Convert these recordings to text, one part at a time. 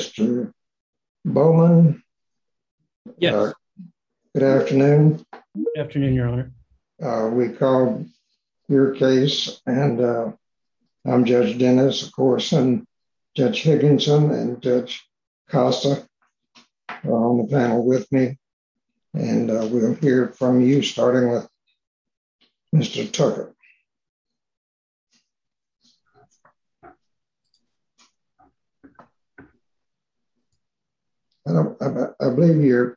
Mr. Bowman? Yes. Good afternoon. Good afternoon, Your Honor. We called your case, and I'm Judge Dennis, of course, and Judge Higginson and Judge Costa are on the panel with me, and we'll hear from you, starting with Mr. Tucker. I believe you're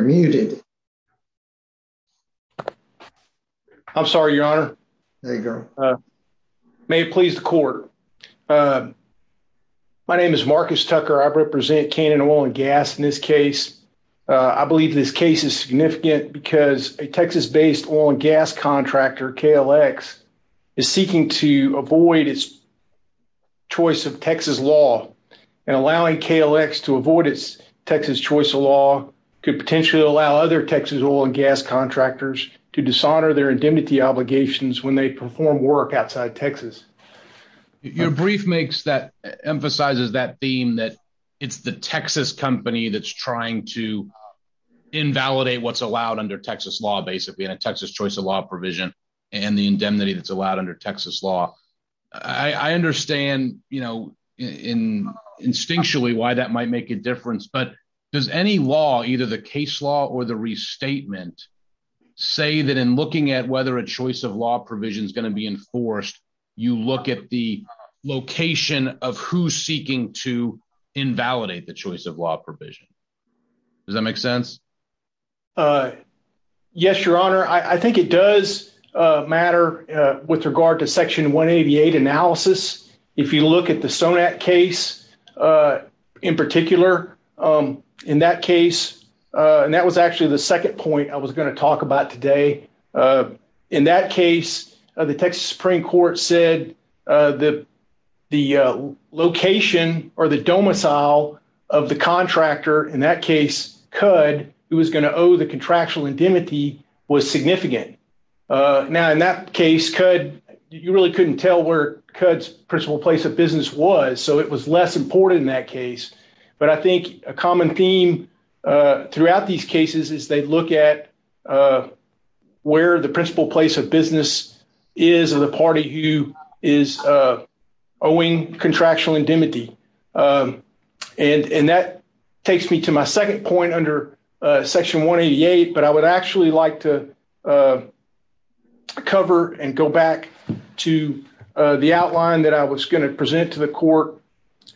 muted. I'm sorry, Your Honor. May it please the court. My name is Marcus Tucker. I represent Cannon Oil and Gas in this case. I believe this case is significant because a Texas-based oil and gas contractor, KLX, is seeking to avoid its choice of Texas law, and allowing KLX to avoid its Texas choice of law could potentially allow other Texas oil and gas contractors to dishonor their indemnity obligations when they perform work outside Texas. Your brief emphasizes that theme, that it's the Texas company that's trying to invalidate what's allowed under Texas law, basically, and a Texas choice of law provision and the indemnity that's allowed under Texas law. I understand instinctually why that might make a difference, but does any law, either the case law or the restatement, say that in looking at whether a choice of law provision is going to be enforced, you look at the location of who's seeking to invalidate the choice of law provision? Does that make sense? Yes, Your Honor. I think it does matter with regard to Section 188 analysis. If you look at the Sonat case in particular, in that case, and that was actually the second point I was going to talk about today. In that case, the Texas Supreme Court said the location or the domicile of the contractor, in that case, CUD, who was going to owe the contractual indemnity was significant. Now, in that case, CUD, you really couldn't tell where CUD's principal place of business was, so it was less important in that case, but I think a common theme throughout these cases is they look at where the principal place of business is of the party who is owing contractual indemnity. That takes me to my second point under Section 188, but I would actually like to cover and go back to the outline that I was going to present to the court.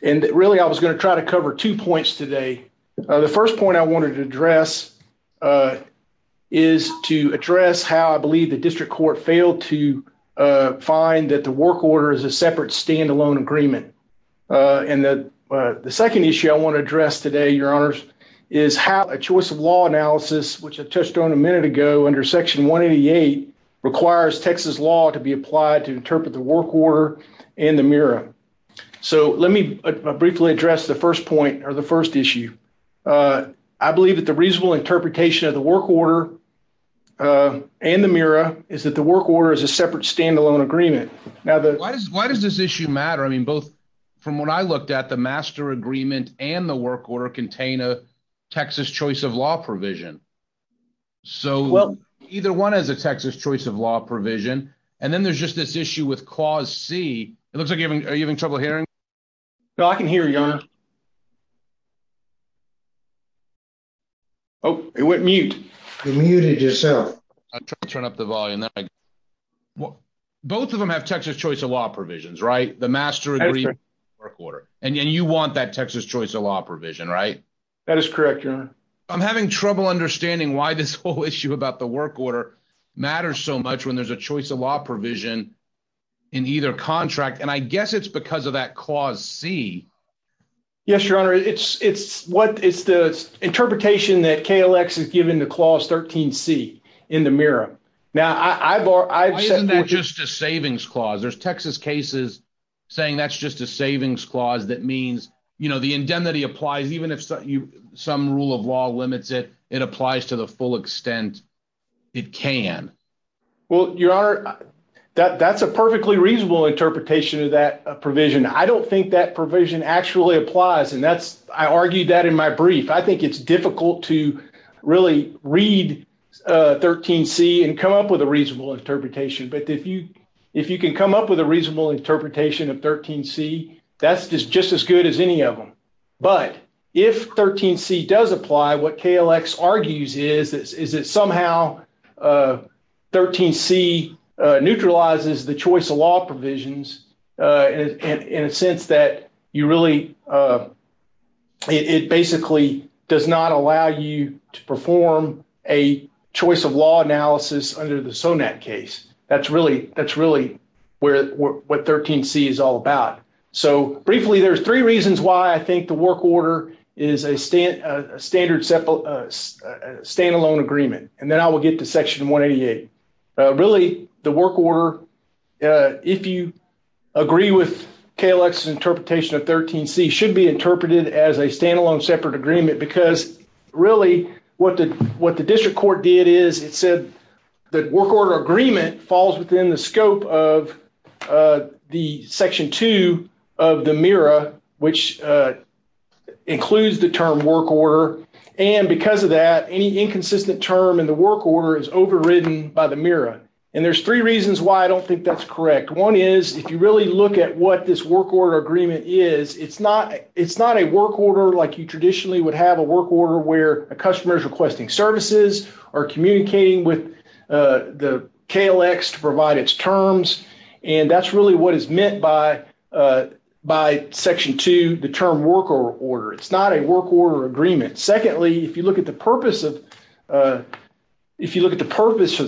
Really, I was going to try to cover two points today. The first point I wanted to address is to address how I believe the district court failed to find that the work order is a separate standalone agreement. The second issue I want to address today, Your Honors, is how a choice of law analysis, which I touched on a minute ago under Section 188, requires Texas law to be applied to interpret the work order in the mirror. Let me briefly address the first point or the first issue. I believe that the reasonable interpretation of the work order and the mirror is that the work order is a separate standalone agreement. Why does this issue matter? From what I looked at, the master agreement and the work order contain a Texas choice of law provision. Either one has a Texas choice of law provision, and then there's just this issue with Clause C. Are you having trouble hearing? I can hear you, Your Honor. It went mute. You muted yourself. I'm trying to turn up the volume. Both of them have Texas choice of law provisions, right? The master agreement and the work order. And you want that Texas choice of law provision, right? That is correct, Your Honor. I'm having trouble understanding why this whole issue about the work order matters so much when there's a choice of law provision in either contract, and I guess it's because of that Clause C. Yes, Your Honor. It's the interpretation that KLX has given the Clause 13C in the mirror. Why isn't that just a savings clause? There's Texas cases saying that's just a savings clause that means the indemnity applies even if some rule of law limits it, it applies to the full extent it can. Well, Your Honor, that's a perfectly reasonable interpretation of that provision. I don't think that provision actually applies, and I argued that in my brief. I think it's difficult to really read 13C and come up with a reasonable interpretation, but if you can come up with a reasonable interpretation of 13C, that's just as good as any of them. But if 13C does apply, what KLX argues is that somehow 13C neutralizes the choice of law provisions in a sense that you really, it basically does not allow you to perform a choice of law analysis under the SONAT case. That's really what 13C is all about. So briefly, there's three reasons why I think the work order is a standard stand-alone agreement, and then I will get to Section 188. Really, the work order, if you agree with KLX's interpretation of 13C, should be interpreted as a stand-alone separate agreement, because really what the District Court did is it said the work order agreement falls within the scope of the Section 2 of the MIRA, which includes the term work order. And because of that, any inconsistent term in the work order is overridden by the MIRA. And there's three reasons why I don't think that's correct. One is, if you really look at what this work order agreement is, it's not a work order like you traditionally would have a work order where a customer is requesting services or communicating with the KLX to provide its terms, and that's really what is meant by Section 2, the term work order. It's not a work order agreement. Secondly, if you look at the purpose of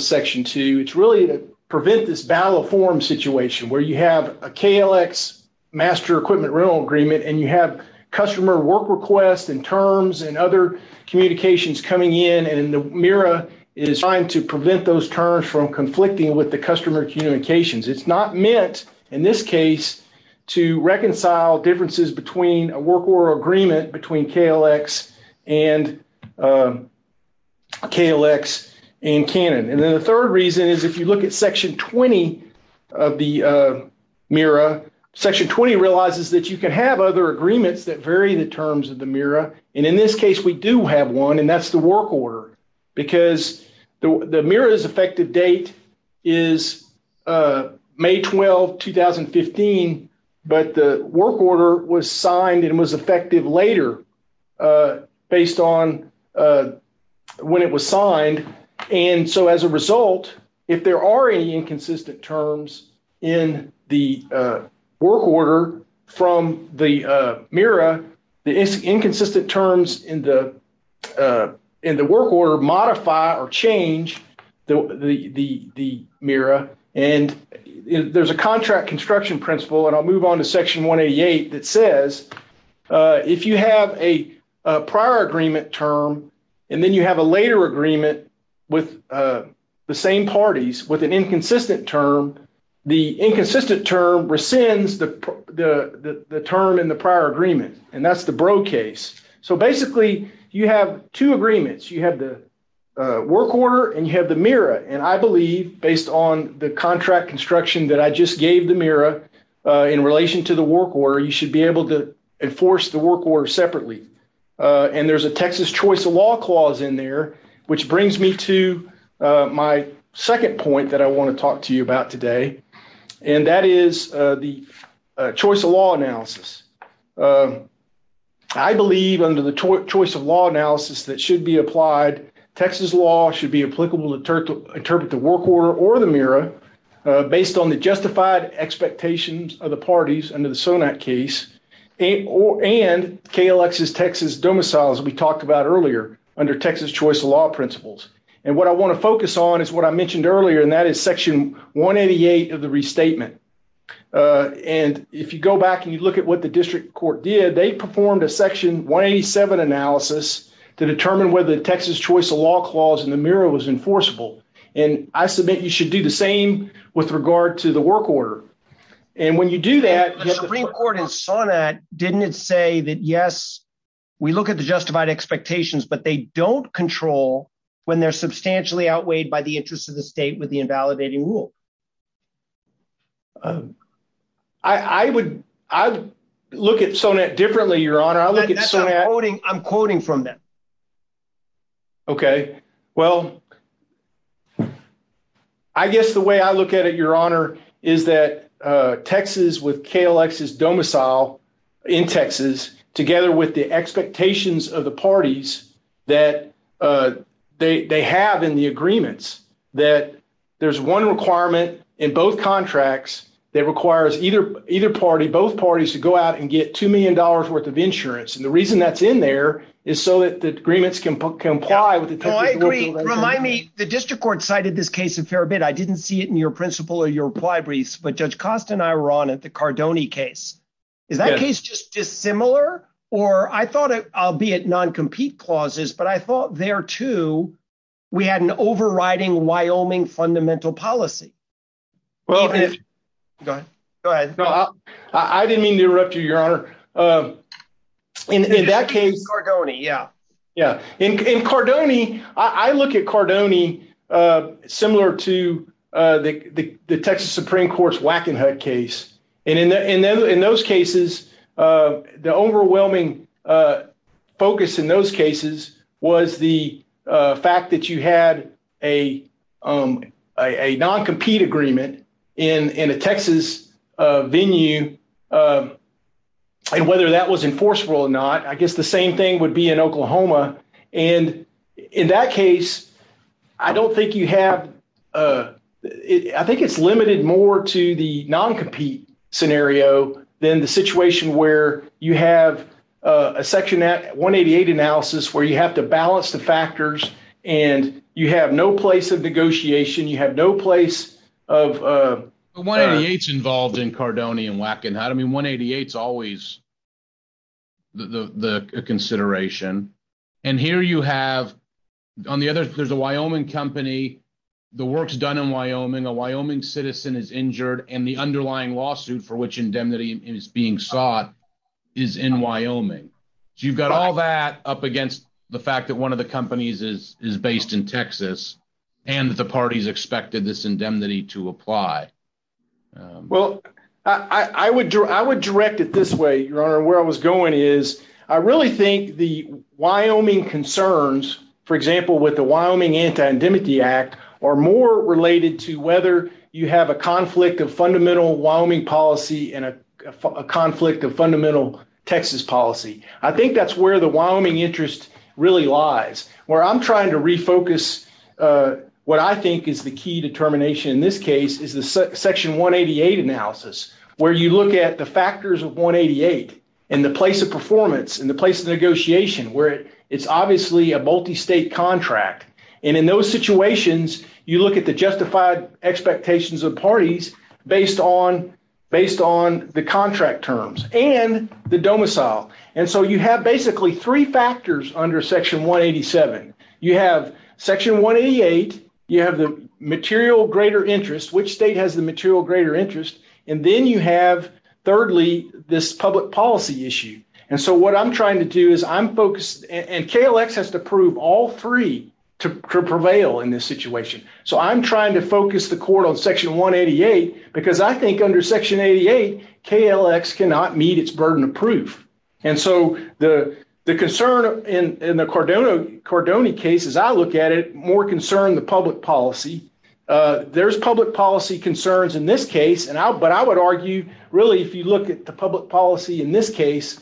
Section 2, it's really to prevent this battle of forms situation where you have a KLX master equipment rental agreement, and you have customer work requests and terms and other communications coming in, and the MIRA is trying to prevent those terms from conflicting with the customer communications. It's not meant, in this case, to reconcile differences between a work order agreement between KLX and Canon. And then the third reason is if you look at Section 20 of the MIRA, Section 20 realizes that you can have other agreements that vary the terms of the MIRA, and in this case, we do have one, and that's the work order because the MIRA's effective date is May 12, 2015, but the work order was signed and was effective later based on when it was signed. And so as a result, if there are any inconsistent terms in the work order from the MIRA, the inconsistent terms in the work order modify or change the MIRA, and there's a contract construction principle, and I'll move on to Section 188 that says if you have a prior agreement term, and then you have a later agreement with the same parties with an inconsistent term, the inconsistent term rescinds the term in the prior agreement, and that's the BRO case. So basically, you have two agreements. You have the work order, and you have the MIRA, and I believe based on the contract construction that I just gave the MIRA in relation to the work order, you should be able to enforce the work order separately, and there's a Texas choice of law clause in there, which brings me to my second point that I want to talk to you about today, and that is the choice of law analysis. I believe under the choice of law analysis that should be applied, Texas law should be applicable to interpret the work order or the MIRA based on the justified expectations of the parties under the SONAC case, and KLX's Texas domiciles we talked about earlier under Texas choice of law principles, and what I want to focus on is what I mentioned earlier, and that is Section 188 of the restatement, and if you go back and you look at what the district court did, they performed a Section 187 analysis to determine whether the Texas choice of law clause in the MIRA was enforceable, and I submit you should do the same with regard to the work order, and when you do that. The Supreme Court in SONAC didn't say that, yes, we look at the justified expectations, but they don't control when they're substantially outweighed by the interest of the state with the invalidating rule. I would look at SONAC differently, Your Honor. I'm quoting from them. Okay, well, I guess the way I look at it, Your Honor, is that Texas with KLX's domicile in Texas together with the expectations of the parties that they have in the agreements, that there's one requirement in both contracts that requires either party, both parties to go out and get $2 million worth of insurance, and the reason that's in there is so that the agreements can comply with the Texas rule. Remind me, the district court cited this case a fair bit. I didn't see it in your principle or your reply briefs, but Judge Costa and I were on it, the Cardone case. Is that case just dissimilar, or I thought, albeit non-compete clauses, but I thought there, too, we had an overriding Wyoming fundamental policy. Go ahead. I didn't mean to interrupt you, Your Honor. In that case… Cardone, yeah. In Cardone, I look at Cardone similar to the Texas Supreme Court's Wackenhut case, and in those cases, the overwhelming focus in those cases was the fact that you had a non-compete agreement in a Texas venue, and whether that was enforceable or not, I guess the same thing would be in Oklahoma, and in that case, I don't think you have… I think it's limited more to the non-compete scenario than the situation where you have a Section 188 analysis where you have to balance the factors, and you have no place of negotiation. You have no place of… I mean, 188's always a consideration, and here you have… On the other, there's a Wyoming company. The work's done in Wyoming. A Wyoming citizen is injured, and the underlying lawsuit for which indemnity is being sought is in Wyoming. So, you've got all that up against the fact that one of the companies is based in Texas, and the parties expected this indemnity to apply. Well, I would direct it this way, Your Honor. Where I was going is I really think the Wyoming concerns, for example, with the Wyoming Anti-Indemnity Act, are more related to whether you have a conflict of fundamental Wyoming policy and a conflict of fundamental Texas policy. I think that's where the Wyoming interest really lies. Where I'm trying to refocus what I think is the key determination in this case is the Section 188 analysis where you look at the factors of 188 and the place of performance and the place of negotiation where it's obviously a multi-state contract. And in those situations, you look at the justified expectations of parties based on the contract terms and the domicile. And so, you have basically three factors under Section 187. You have Section 188, you have the material greater interest, which state has the material greater interest, and then you have, thirdly, this public policy issue. And so, what I'm trying to do is I'm focused, and KLX has to prove all three to prevail in this situation. So, I'm trying to focus the court on Section 188 because I think under Section 88, KLX cannot meet its burden of proof. And so, the concern in the Cardone case, as I look at it, more concern the public policy. There's public policy concerns in this case, but I would argue, really, if you look at the public policy in this case,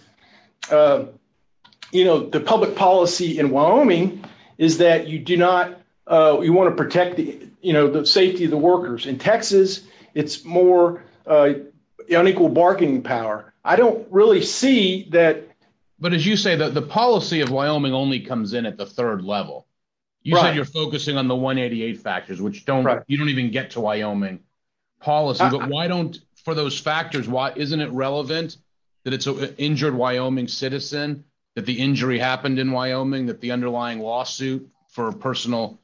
the public policy in Wyoming is that you want to protect the safety of the workers. In Texas, it's more unequal bargaining power. I don't really see that. But as you say, the policy of Wyoming only comes in at the third level. You said you're focusing on the 188 factors, which you don't even get to Wyoming policy. But why don't, for those factors, isn't it relevant that it's an injured Wyoming citizen, that the injury happened in Wyoming, that the underlying lawsuit for personal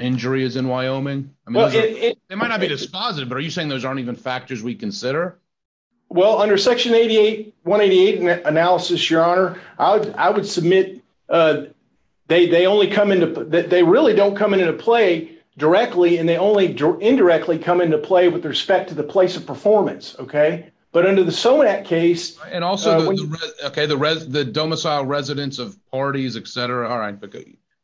injury is in Wyoming? They might not be dispositive, but are you saying those aren't even factors we consider? Well, under Section 188 analysis, Your Honor, I would submit they really don't come into play directly, and they only indirectly come into play with respect to the place of performance. But under the SONAC case- And also, the domicile residents of parties, et cetera. All right.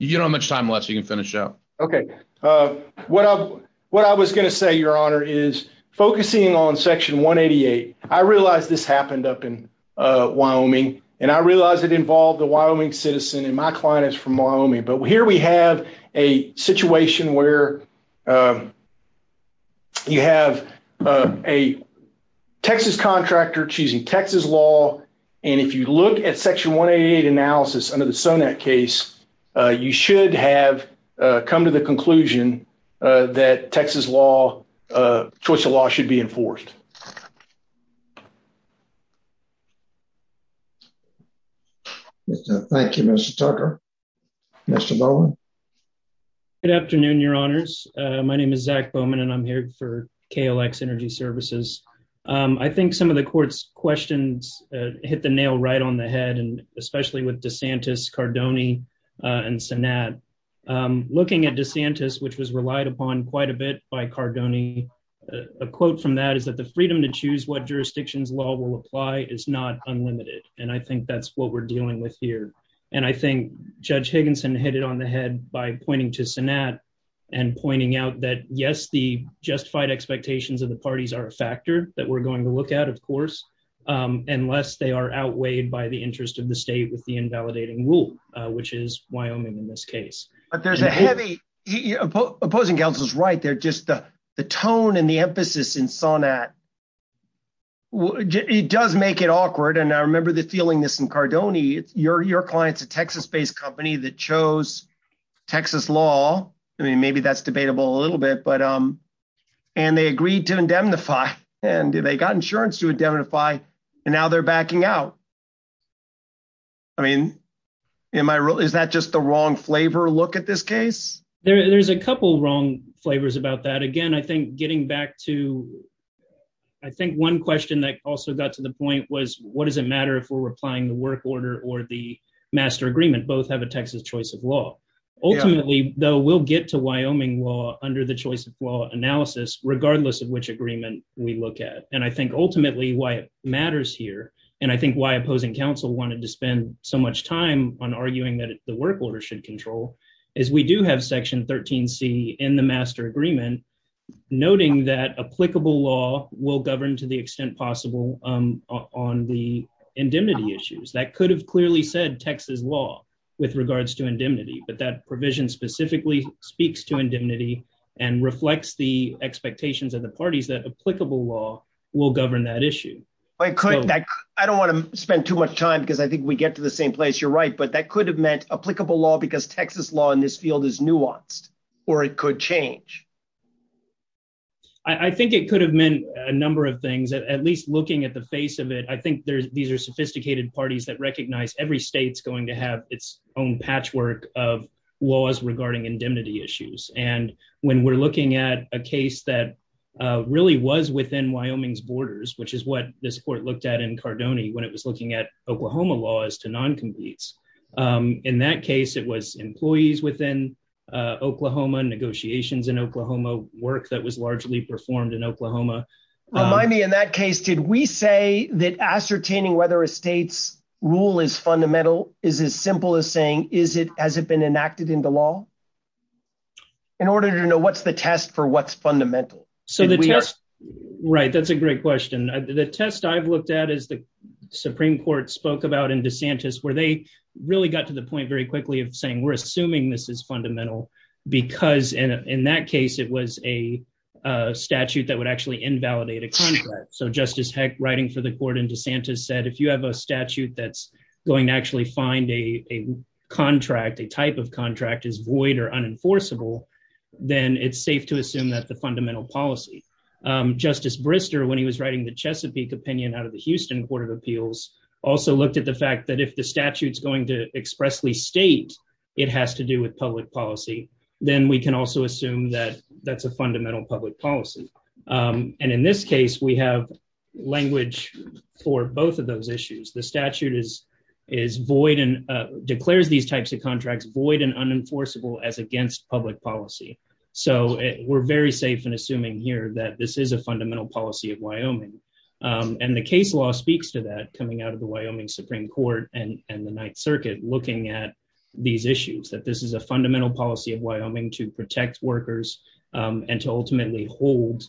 You don't have much time left, so you can finish up. OK. What I was going to say, Your Honor, is focusing on Section 188, I realize this happened up in Wyoming, and I realize it involved a Wyoming citizen, and my client is from Wyoming. But here we have a situation where you have a Texas contractor choosing Texas law, and if you look at Section 188 analysis under the SONAC case, you should have come to the conclusion that Texas law, choice of law, should be enforced. Thank you. Thank you, Mr. Tucker. Mr. Bowman? Good afternoon, Your Honors. My name is Zach Bowman, and I'm here for KLX Energy Services. I think some of the court's questions hit the nail right on the head, and especially with DeSantis, Cardone, and Sanat. Looking at DeSantis, which was relied upon quite a bit by Cardone, a quote from that is that the freedom to choose what jurisdictions law will apply is not unlimited, and I think that's what we're dealing with here. And I think Judge Higginson hit it on the head by pointing to Sanat and pointing out that, yes, the justified expectations of the parties are a factor that we're going to look at, of course, unless they are outweighed by the interest of the state with the invalidating rule, which is Wyoming in this case. But there's a heavy—opposing counsel's right there, just the tone and the emphasis in Sanat. It does make it awkward, and I remember the feeling this in Cardone. Your client's a Texas-based company that chose Texas law. I mean, maybe that's debatable a little bit, but—and they agreed to indemnify, and they got insurance to indemnify, and now they're backing out. I mean, am I—is that just the wrong flavor look at this case? There's a couple wrong flavors about that. Again, I think getting back to—I think one question that also got to the point was, what does it matter if we're applying the work order or the master agreement? Both have a Texas choice of law. Ultimately, though, we'll get to Wyoming law under the choice of law analysis, regardless of which agreement we look at. And I think ultimately why it matters here, and I think why opposing counsel wanted to spend so much time on arguing that the work order should control, is we do have Section 13C in the master agreement noting that applicable law will govern to the extent possible on the indemnity issues. That could have clearly said Texas law with regards to indemnity, but that provision specifically speaks to indemnity and reflects the expectations of the parties that applicable law will govern that issue. I don't want to spend too much time because I think we get to the same place. You're right, but that could have meant applicable law because Texas law in this field is nuanced, or it could change. I think it could have meant a number of things, at least looking at the face of it. I think these are sophisticated parties that recognize every state's going to have its own patchwork of laws regarding indemnity issues. And when we're looking at a case that really was within Wyoming's borders, which is what this court looked at in Cardone when it was looking at Oklahoma laws to non-competes. In that case, it was employees within Oklahoma, negotiations in Oklahoma, work that was largely performed in Oklahoma. Remind me, in that case, did we say that ascertaining whether a state's rule is fundamental is as simple as saying, is it, has it been enacted into law? In order to know what's the test for what's fundamental. So the test. Right. That's a great question. The test I've looked at is the Supreme Court spoke about in DeSantis, where they really got to the point very quickly of saying we're assuming this is fundamental because in that case, it was a statute that would actually invalidate a contract. So Justice Heck writing for the court in DeSantis said, if you have a statute that's going to actually find a contract, a type of contract is void or unenforceable, then it's safe to assume that the fundamental policy. Justice Brister, when he was writing the Chesapeake opinion out of the Houston Court of Appeals, also looked at the fact that if the statute is going to expressly state it has to do with public policy, then we can also assume that that's a fundamental public policy. And in this case, we have language for both of those issues. The statute is is void and declares these types of contracts void and unenforceable as against public policy. So we're very safe in assuming here that this is a fundamental policy of Wyoming. And the case law speaks to that coming out of the Wyoming Supreme Court and the Ninth Circuit, looking at these issues, that this is a fundamental policy of Wyoming to protect workers and to ultimately hold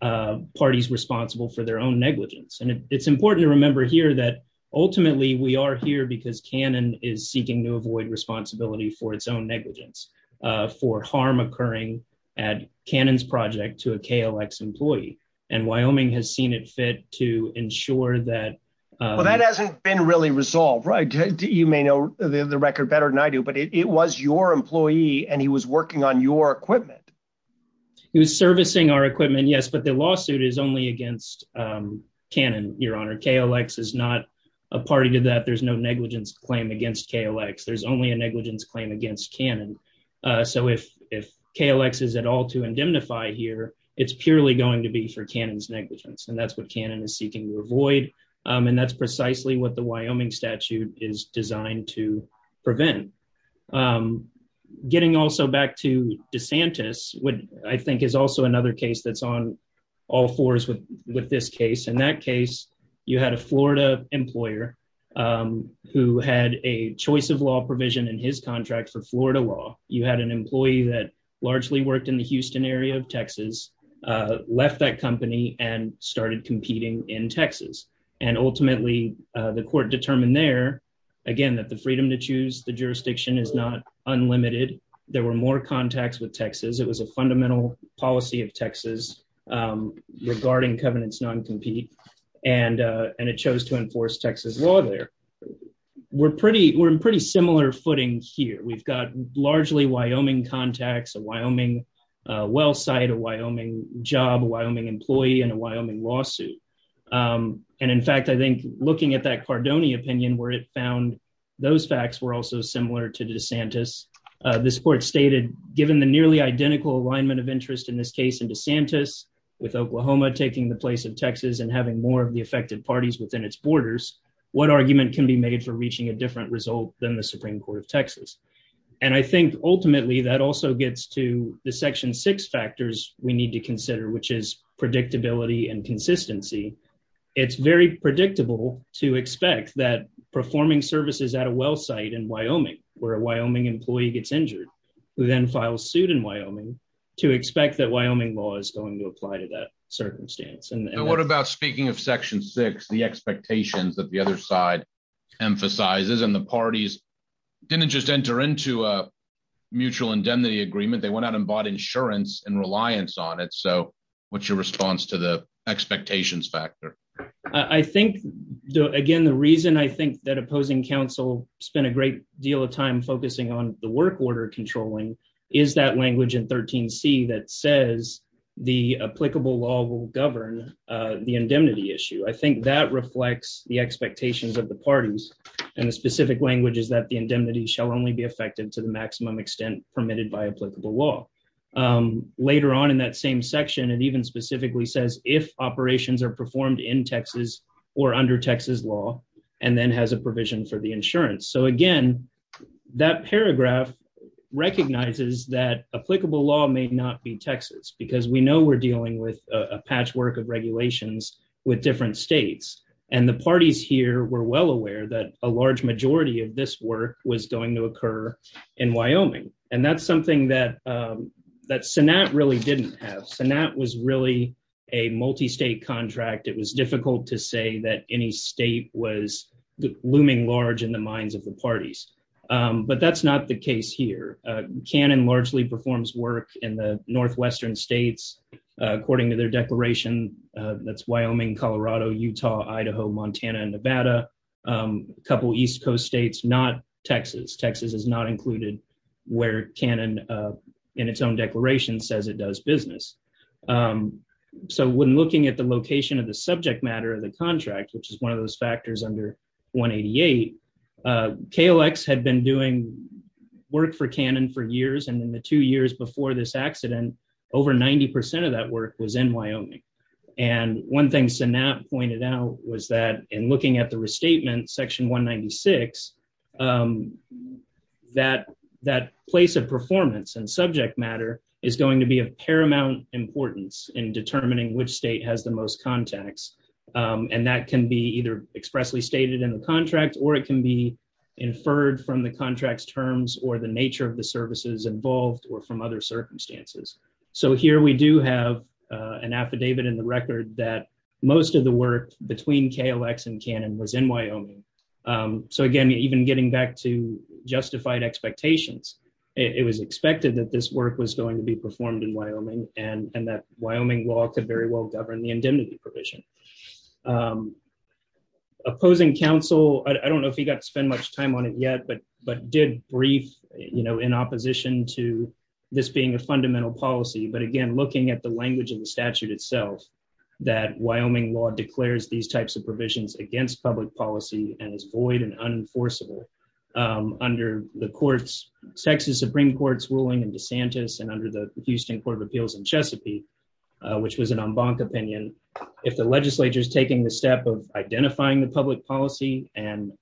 parties responsible for their own negligence. And it's important to remember here that ultimately we are here because Cannon is seeking to avoid responsibility for its own negligence, for harm occurring at Cannon's project to a KLX employee. And Wyoming has seen it fit to ensure that. Well, that hasn't been really resolved, right? You may know the record better than I do, but it was your employee and he was working on your equipment. He was servicing our equipment, yes, but the lawsuit is only against Cannon, Your Honor. KLX is not a party to that. There's no negligence claim against KLX. There's only a negligence claim against Cannon. So if if KLX is at all to indemnify here, it's purely going to be for Cannon's negligence. And that's what Cannon is seeking to avoid. And that's precisely what the Wyoming statute is designed to prevent. Getting also back to DeSantis, which I think is also another case that's on all fours with this case. In that case, you had a Florida employer who had a choice of law provision in his contract for Florida law. You had an employee that largely worked in the Houston area of Texas, left that company and started competing in Texas. And ultimately the court determined there, again, that the freedom to choose the jurisdiction is not unlimited. There were more contacts with Texas. It was a fundamental policy of Texas regarding covenants non-compete. And and it chose to enforce Texas law there. We're pretty we're in pretty similar footing here. We've got largely Wyoming contacts, a Wyoming well site, a Wyoming job, a Wyoming employee and a Wyoming lawsuit. And in fact, I think looking at that Cardone opinion where it found those facts were also similar to DeSantis. This court stated, given the nearly identical alignment of interest in this case in DeSantis, with Oklahoma taking the place of Texas and having more of the affected parties within its borders, what argument can be made for reaching a different result than the Supreme Court of Texas? And I think ultimately that also gets to the section six factors we need to consider, which is predictability and consistency. It's very predictable to expect that performing services at a well site in Wyoming where a Wyoming employee gets injured, who then files suit in Wyoming, to expect that Wyoming law is going to apply to that circumstance. And what about speaking of Section six, the expectations that the other side emphasizes? And the parties didn't just enter into a mutual indemnity agreement. They went out and bought insurance and reliance on it. So what's your response to the expectations factor? I think, again, the reason I think that opposing counsel spent a great deal of time focusing on the work order, is that language in 13C that says the applicable law will govern the indemnity issue. I think that reflects the expectations of the parties. And the specific language is that the indemnity shall only be effective to the maximum extent permitted by applicable law. Later on in that same section, it even specifically says if operations are performed in Texas or under Texas law and then has a provision for the insurance. So, again, that paragraph recognizes that applicable law may not be Texas, because we know we're dealing with a patchwork of regulations with different states. And the parties here were well aware that a large majority of this work was going to occur in Wyoming. And that's something that that Sanat really didn't have. Sanat was really a multi-state contract. It was difficult to say that any state was looming large in the minds of the parties. But that's not the case here. Cannon largely performs work in the northwestern states, according to their declaration. That's Wyoming, Colorado, Utah, Idaho, Montana and Nevada. A couple of East Coast states, not Texas. Texas is not included where Cannon in its own declaration says it does business. So when looking at the location of the subject matter of the contract, which is one of those factors under 188, KLX had been doing work for Cannon for years. And in the two years before this accident, over 90 percent of that work was in Wyoming. And one thing Sanat pointed out was that in looking at the restatement, section 196, that that place of performance and subject matter is going to be of paramount importance in determining which state has the most contacts. And that can be either expressly stated in the contract or it can be inferred from the contract's terms or the nature of the services involved or from other circumstances. So here we do have an affidavit in the record that most of the work between KLX and Cannon was in Wyoming. So, again, even getting back to justified expectations, it was expected that this work was going to be performed in Wyoming and that Wyoming law could very well govern the indemnity provision. Opposing counsel, I don't know if he got to spend much time on it yet, but did brief in opposition to this being a fundamental policy. But again, looking at the language of the statute itself, that Wyoming law declares these types of provisions against public policy and is void and unenforceable. Under the Texas Supreme Court's ruling in DeSantis and under the Houston Court of Appeals in Chesapeake, which was an en banc opinion, if the legislature is taking the step of identifying the public policy and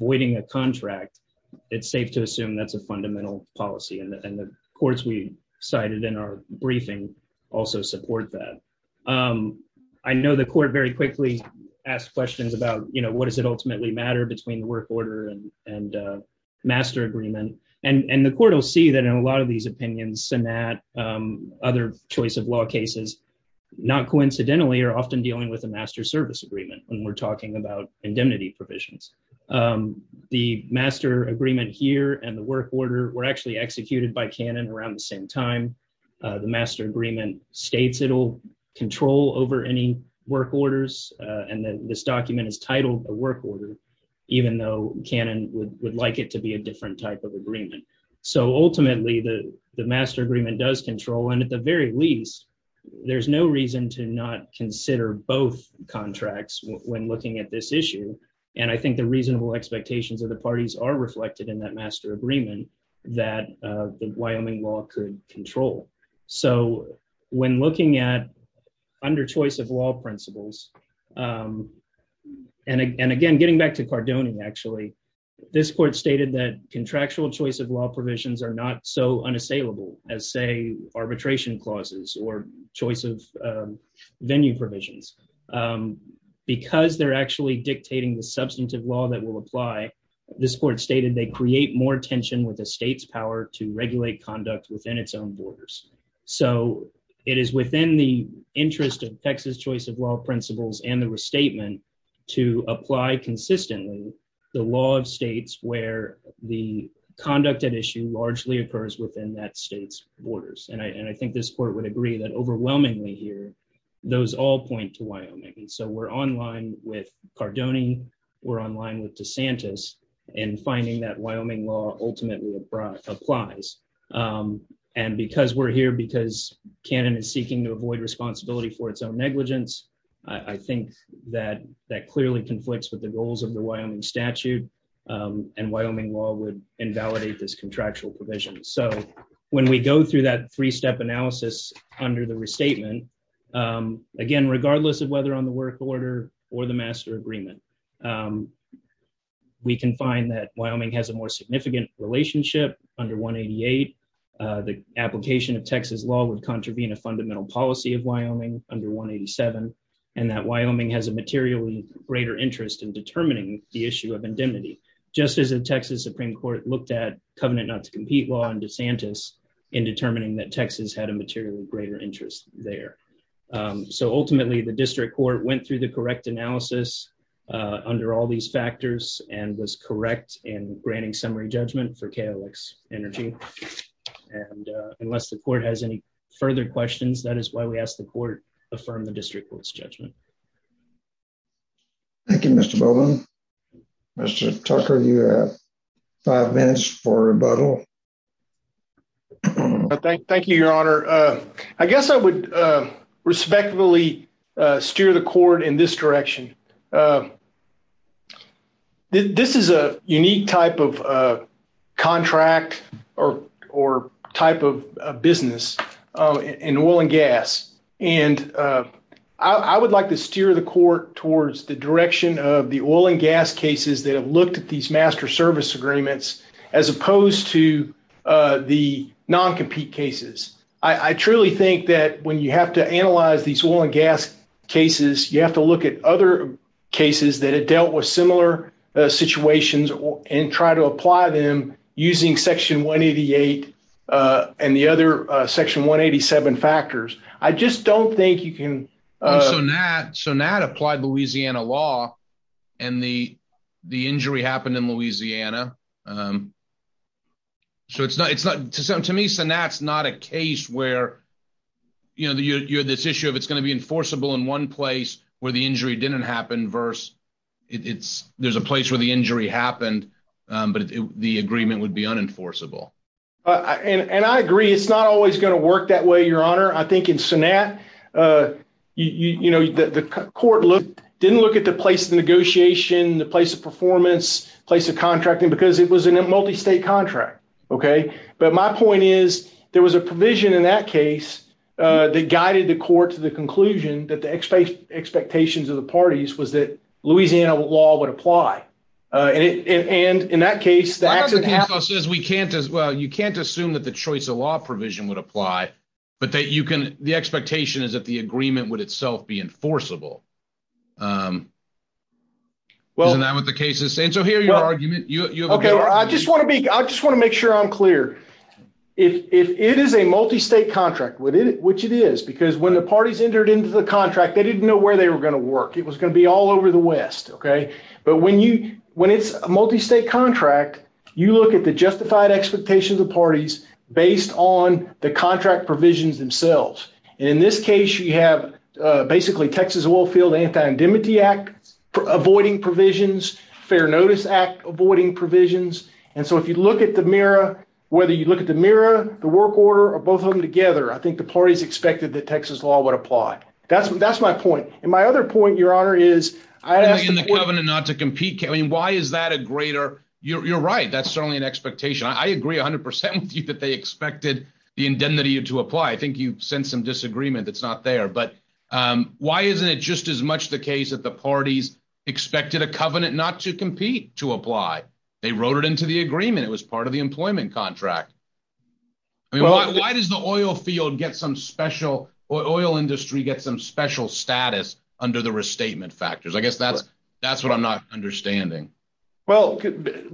voiding a contract, it's safe to assume that's a fundamental policy. And the courts we cited in our briefing also support that. I know the court very quickly asked questions about, you know, what does it ultimately matter between the work order and master agreement? And the court will see that in a lot of these opinions and that other choice of law cases, not coincidentally, are often dealing with a master service agreement when we're talking about indemnity provisions. The master agreement here and the work order were actually executed by Canon around the same time. The master agreement states it will control over any work orders. And this document is titled a work order, even though Canon would like it to be a different type of agreement. So ultimately, the master agreement does control. And at the very least, there's no reason to not consider both contracts when looking at this issue. And I think the reasonable expectations of the parties are reflected in that master agreement that Wyoming law could control. So when looking at under choice of law principles and again, getting back to Cardone, actually, this court stated that contractual choice of law provisions are not so unassailable as, say, arbitration clauses or choice of venue provisions, because they're actually dictating the substantive law that will apply. This court stated they create more tension with the state's power to regulate conduct within its own borders. So it is within the interest of Texas choice of law principles and the restatement to apply consistently the law of states where the conduct at issue largely occurs within that state's borders. And I think this court would agree that overwhelmingly here, those all point to Wyoming. So we're online with Cardone. We're online with DeSantis and finding that Wyoming law ultimately applies. And because we're here, because Canon is seeking to avoid responsibility for its own negligence, I think that that clearly conflicts with the goals of the Wyoming statute and Wyoming law would invalidate this contractual provision. So when we go through that three step analysis under the restatement, again, regardless of whether on the work order or the master agreement, we can find that Wyoming has a more significant relationship under 188. The application of Texas law would contravene a fundamental policy of Wyoming under 187 and that Wyoming has a materially greater interest in determining the issue of indemnity. Just as the Texas Supreme Court looked at covenant not to compete law and DeSantis in determining that Texas had a materially greater interest there. So ultimately, the district court went through the correct analysis under all these factors and was correct in granting summary judgment for KOX Energy. And unless the court has any further questions, that is why we asked the court affirm the district court's judgment. Thank you, Mr. Bowman. Mr. Tucker, you have five minutes for rebuttal. Thank you, Your Honor. I guess I would respectfully steer the court in this direction. This is a unique type of contract or type of business in oil and gas. And I would like to steer the court towards the direction of the oil and gas cases that have looked at these master service agreements, as opposed to the non-compete cases. I truly think that when you have to analyze these oil and gas cases, you have to look at other cases that have dealt with similar situations and try to apply them using Section 188 and the other Section 187 factors. I just don't think you can. Sonat applied Louisiana law, and the injury happened in Louisiana. So to me, Sonat's not a case where you have this issue of it's going to be enforceable in one place where the injury didn't happen versus there's a place where the injury happened, but the agreement would be unenforceable. And I agree, it's not always going to work that way, Your Honor. I think in Sonat, the court didn't look at the place of negotiation, the place of performance, place of contracting, because it was a multi-state contract. But my point is, there was a provision in that case that guided the court to the conclusion that the expectations of the parties was that Louisiana law would apply. And in that case, the accident happened. Well, you can't assume that the choice of law provision would apply, but the expectation is that the agreement would itself be enforceable. Isn't that what the case is saying? So here's your argument. I just want to make sure I'm clear. It is a multi-state contract, which it is, because when the parties entered into the contract, they didn't know where they were going to work. It was going to be all over the West. But when it's a multi-state contract, you look at the justified expectations of the parties based on the contract provisions themselves. And in this case, you have basically Texas Oilfield Anti-Indemnity Act avoiding provisions, Fair Notice Act avoiding provisions. And so if you look at the mirror, whether you look at the mirror, the work order, or both of them together, I think the parties expected that Texas law would apply. That's that's my point. And my other point, your honor, is I think in the covenant not to compete. I mean, why is that a greater you're right. That's certainly an expectation. I agree 100 percent with you that they expected the indemnity to apply. I think you've sent some disagreement that's not there. But why isn't it just as much the case that the parties expected a covenant not to compete to apply? They wrote it into the agreement. It was part of the employment contract. Why does the oil field get some special or oil industry get some special status under the restatement factors? I guess that's that's what I'm not understanding. Well,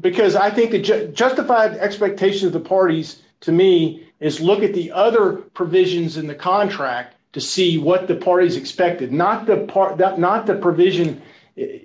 because I think the justified expectation of the parties to me is look at the other provisions in the contract to see what the parties expected. Not the part that not the provision,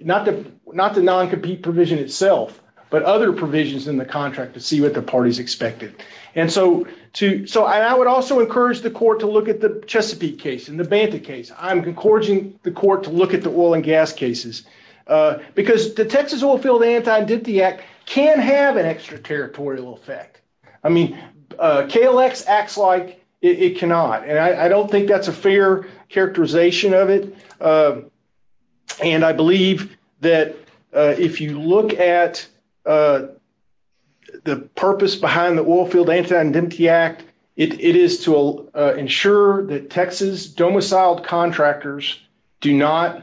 not the not the noncompete provision itself, but other provisions in the contract to see what the parties expected. And so, too. So I would also encourage the court to look at the Chesapeake case in the Banta case. I'm encouraging the court to look at the oil and gas cases because the Texas Oilfield Anti-Indemnity Act can have an extraterritorial effect. I mean, KLX acts like it cannot. And I don't think that's a fair characterization of it. And I believe that if you look at the purpose behind the Oilfield Anti-Indemnity Act, it is to ensure that Texas domiciled contractors do not.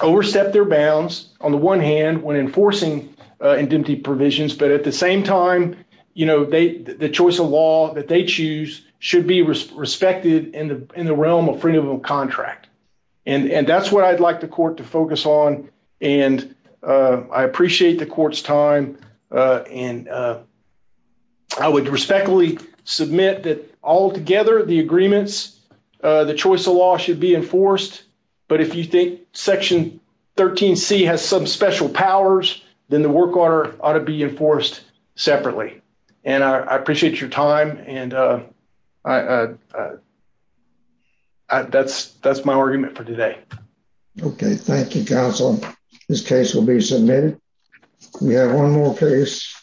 Overstep their bounds on the one hand when enforcing indemnity provisions, but at the same time, you know, they the choice of law that they choose should be respected in the in the realm of freedom of contract. And that's what I'd like the court to focus on. And I appreciate the court's time. And I would respectfully submit that altogether, the agreements, the choice of law should be enforced. But if you think Section 13 C has some special powers, then the work order ought to be enforced separately. And I appreciate your time. And that's that's my argument for today. OK, thank you, counsel. This case will be submitted. We have one more case.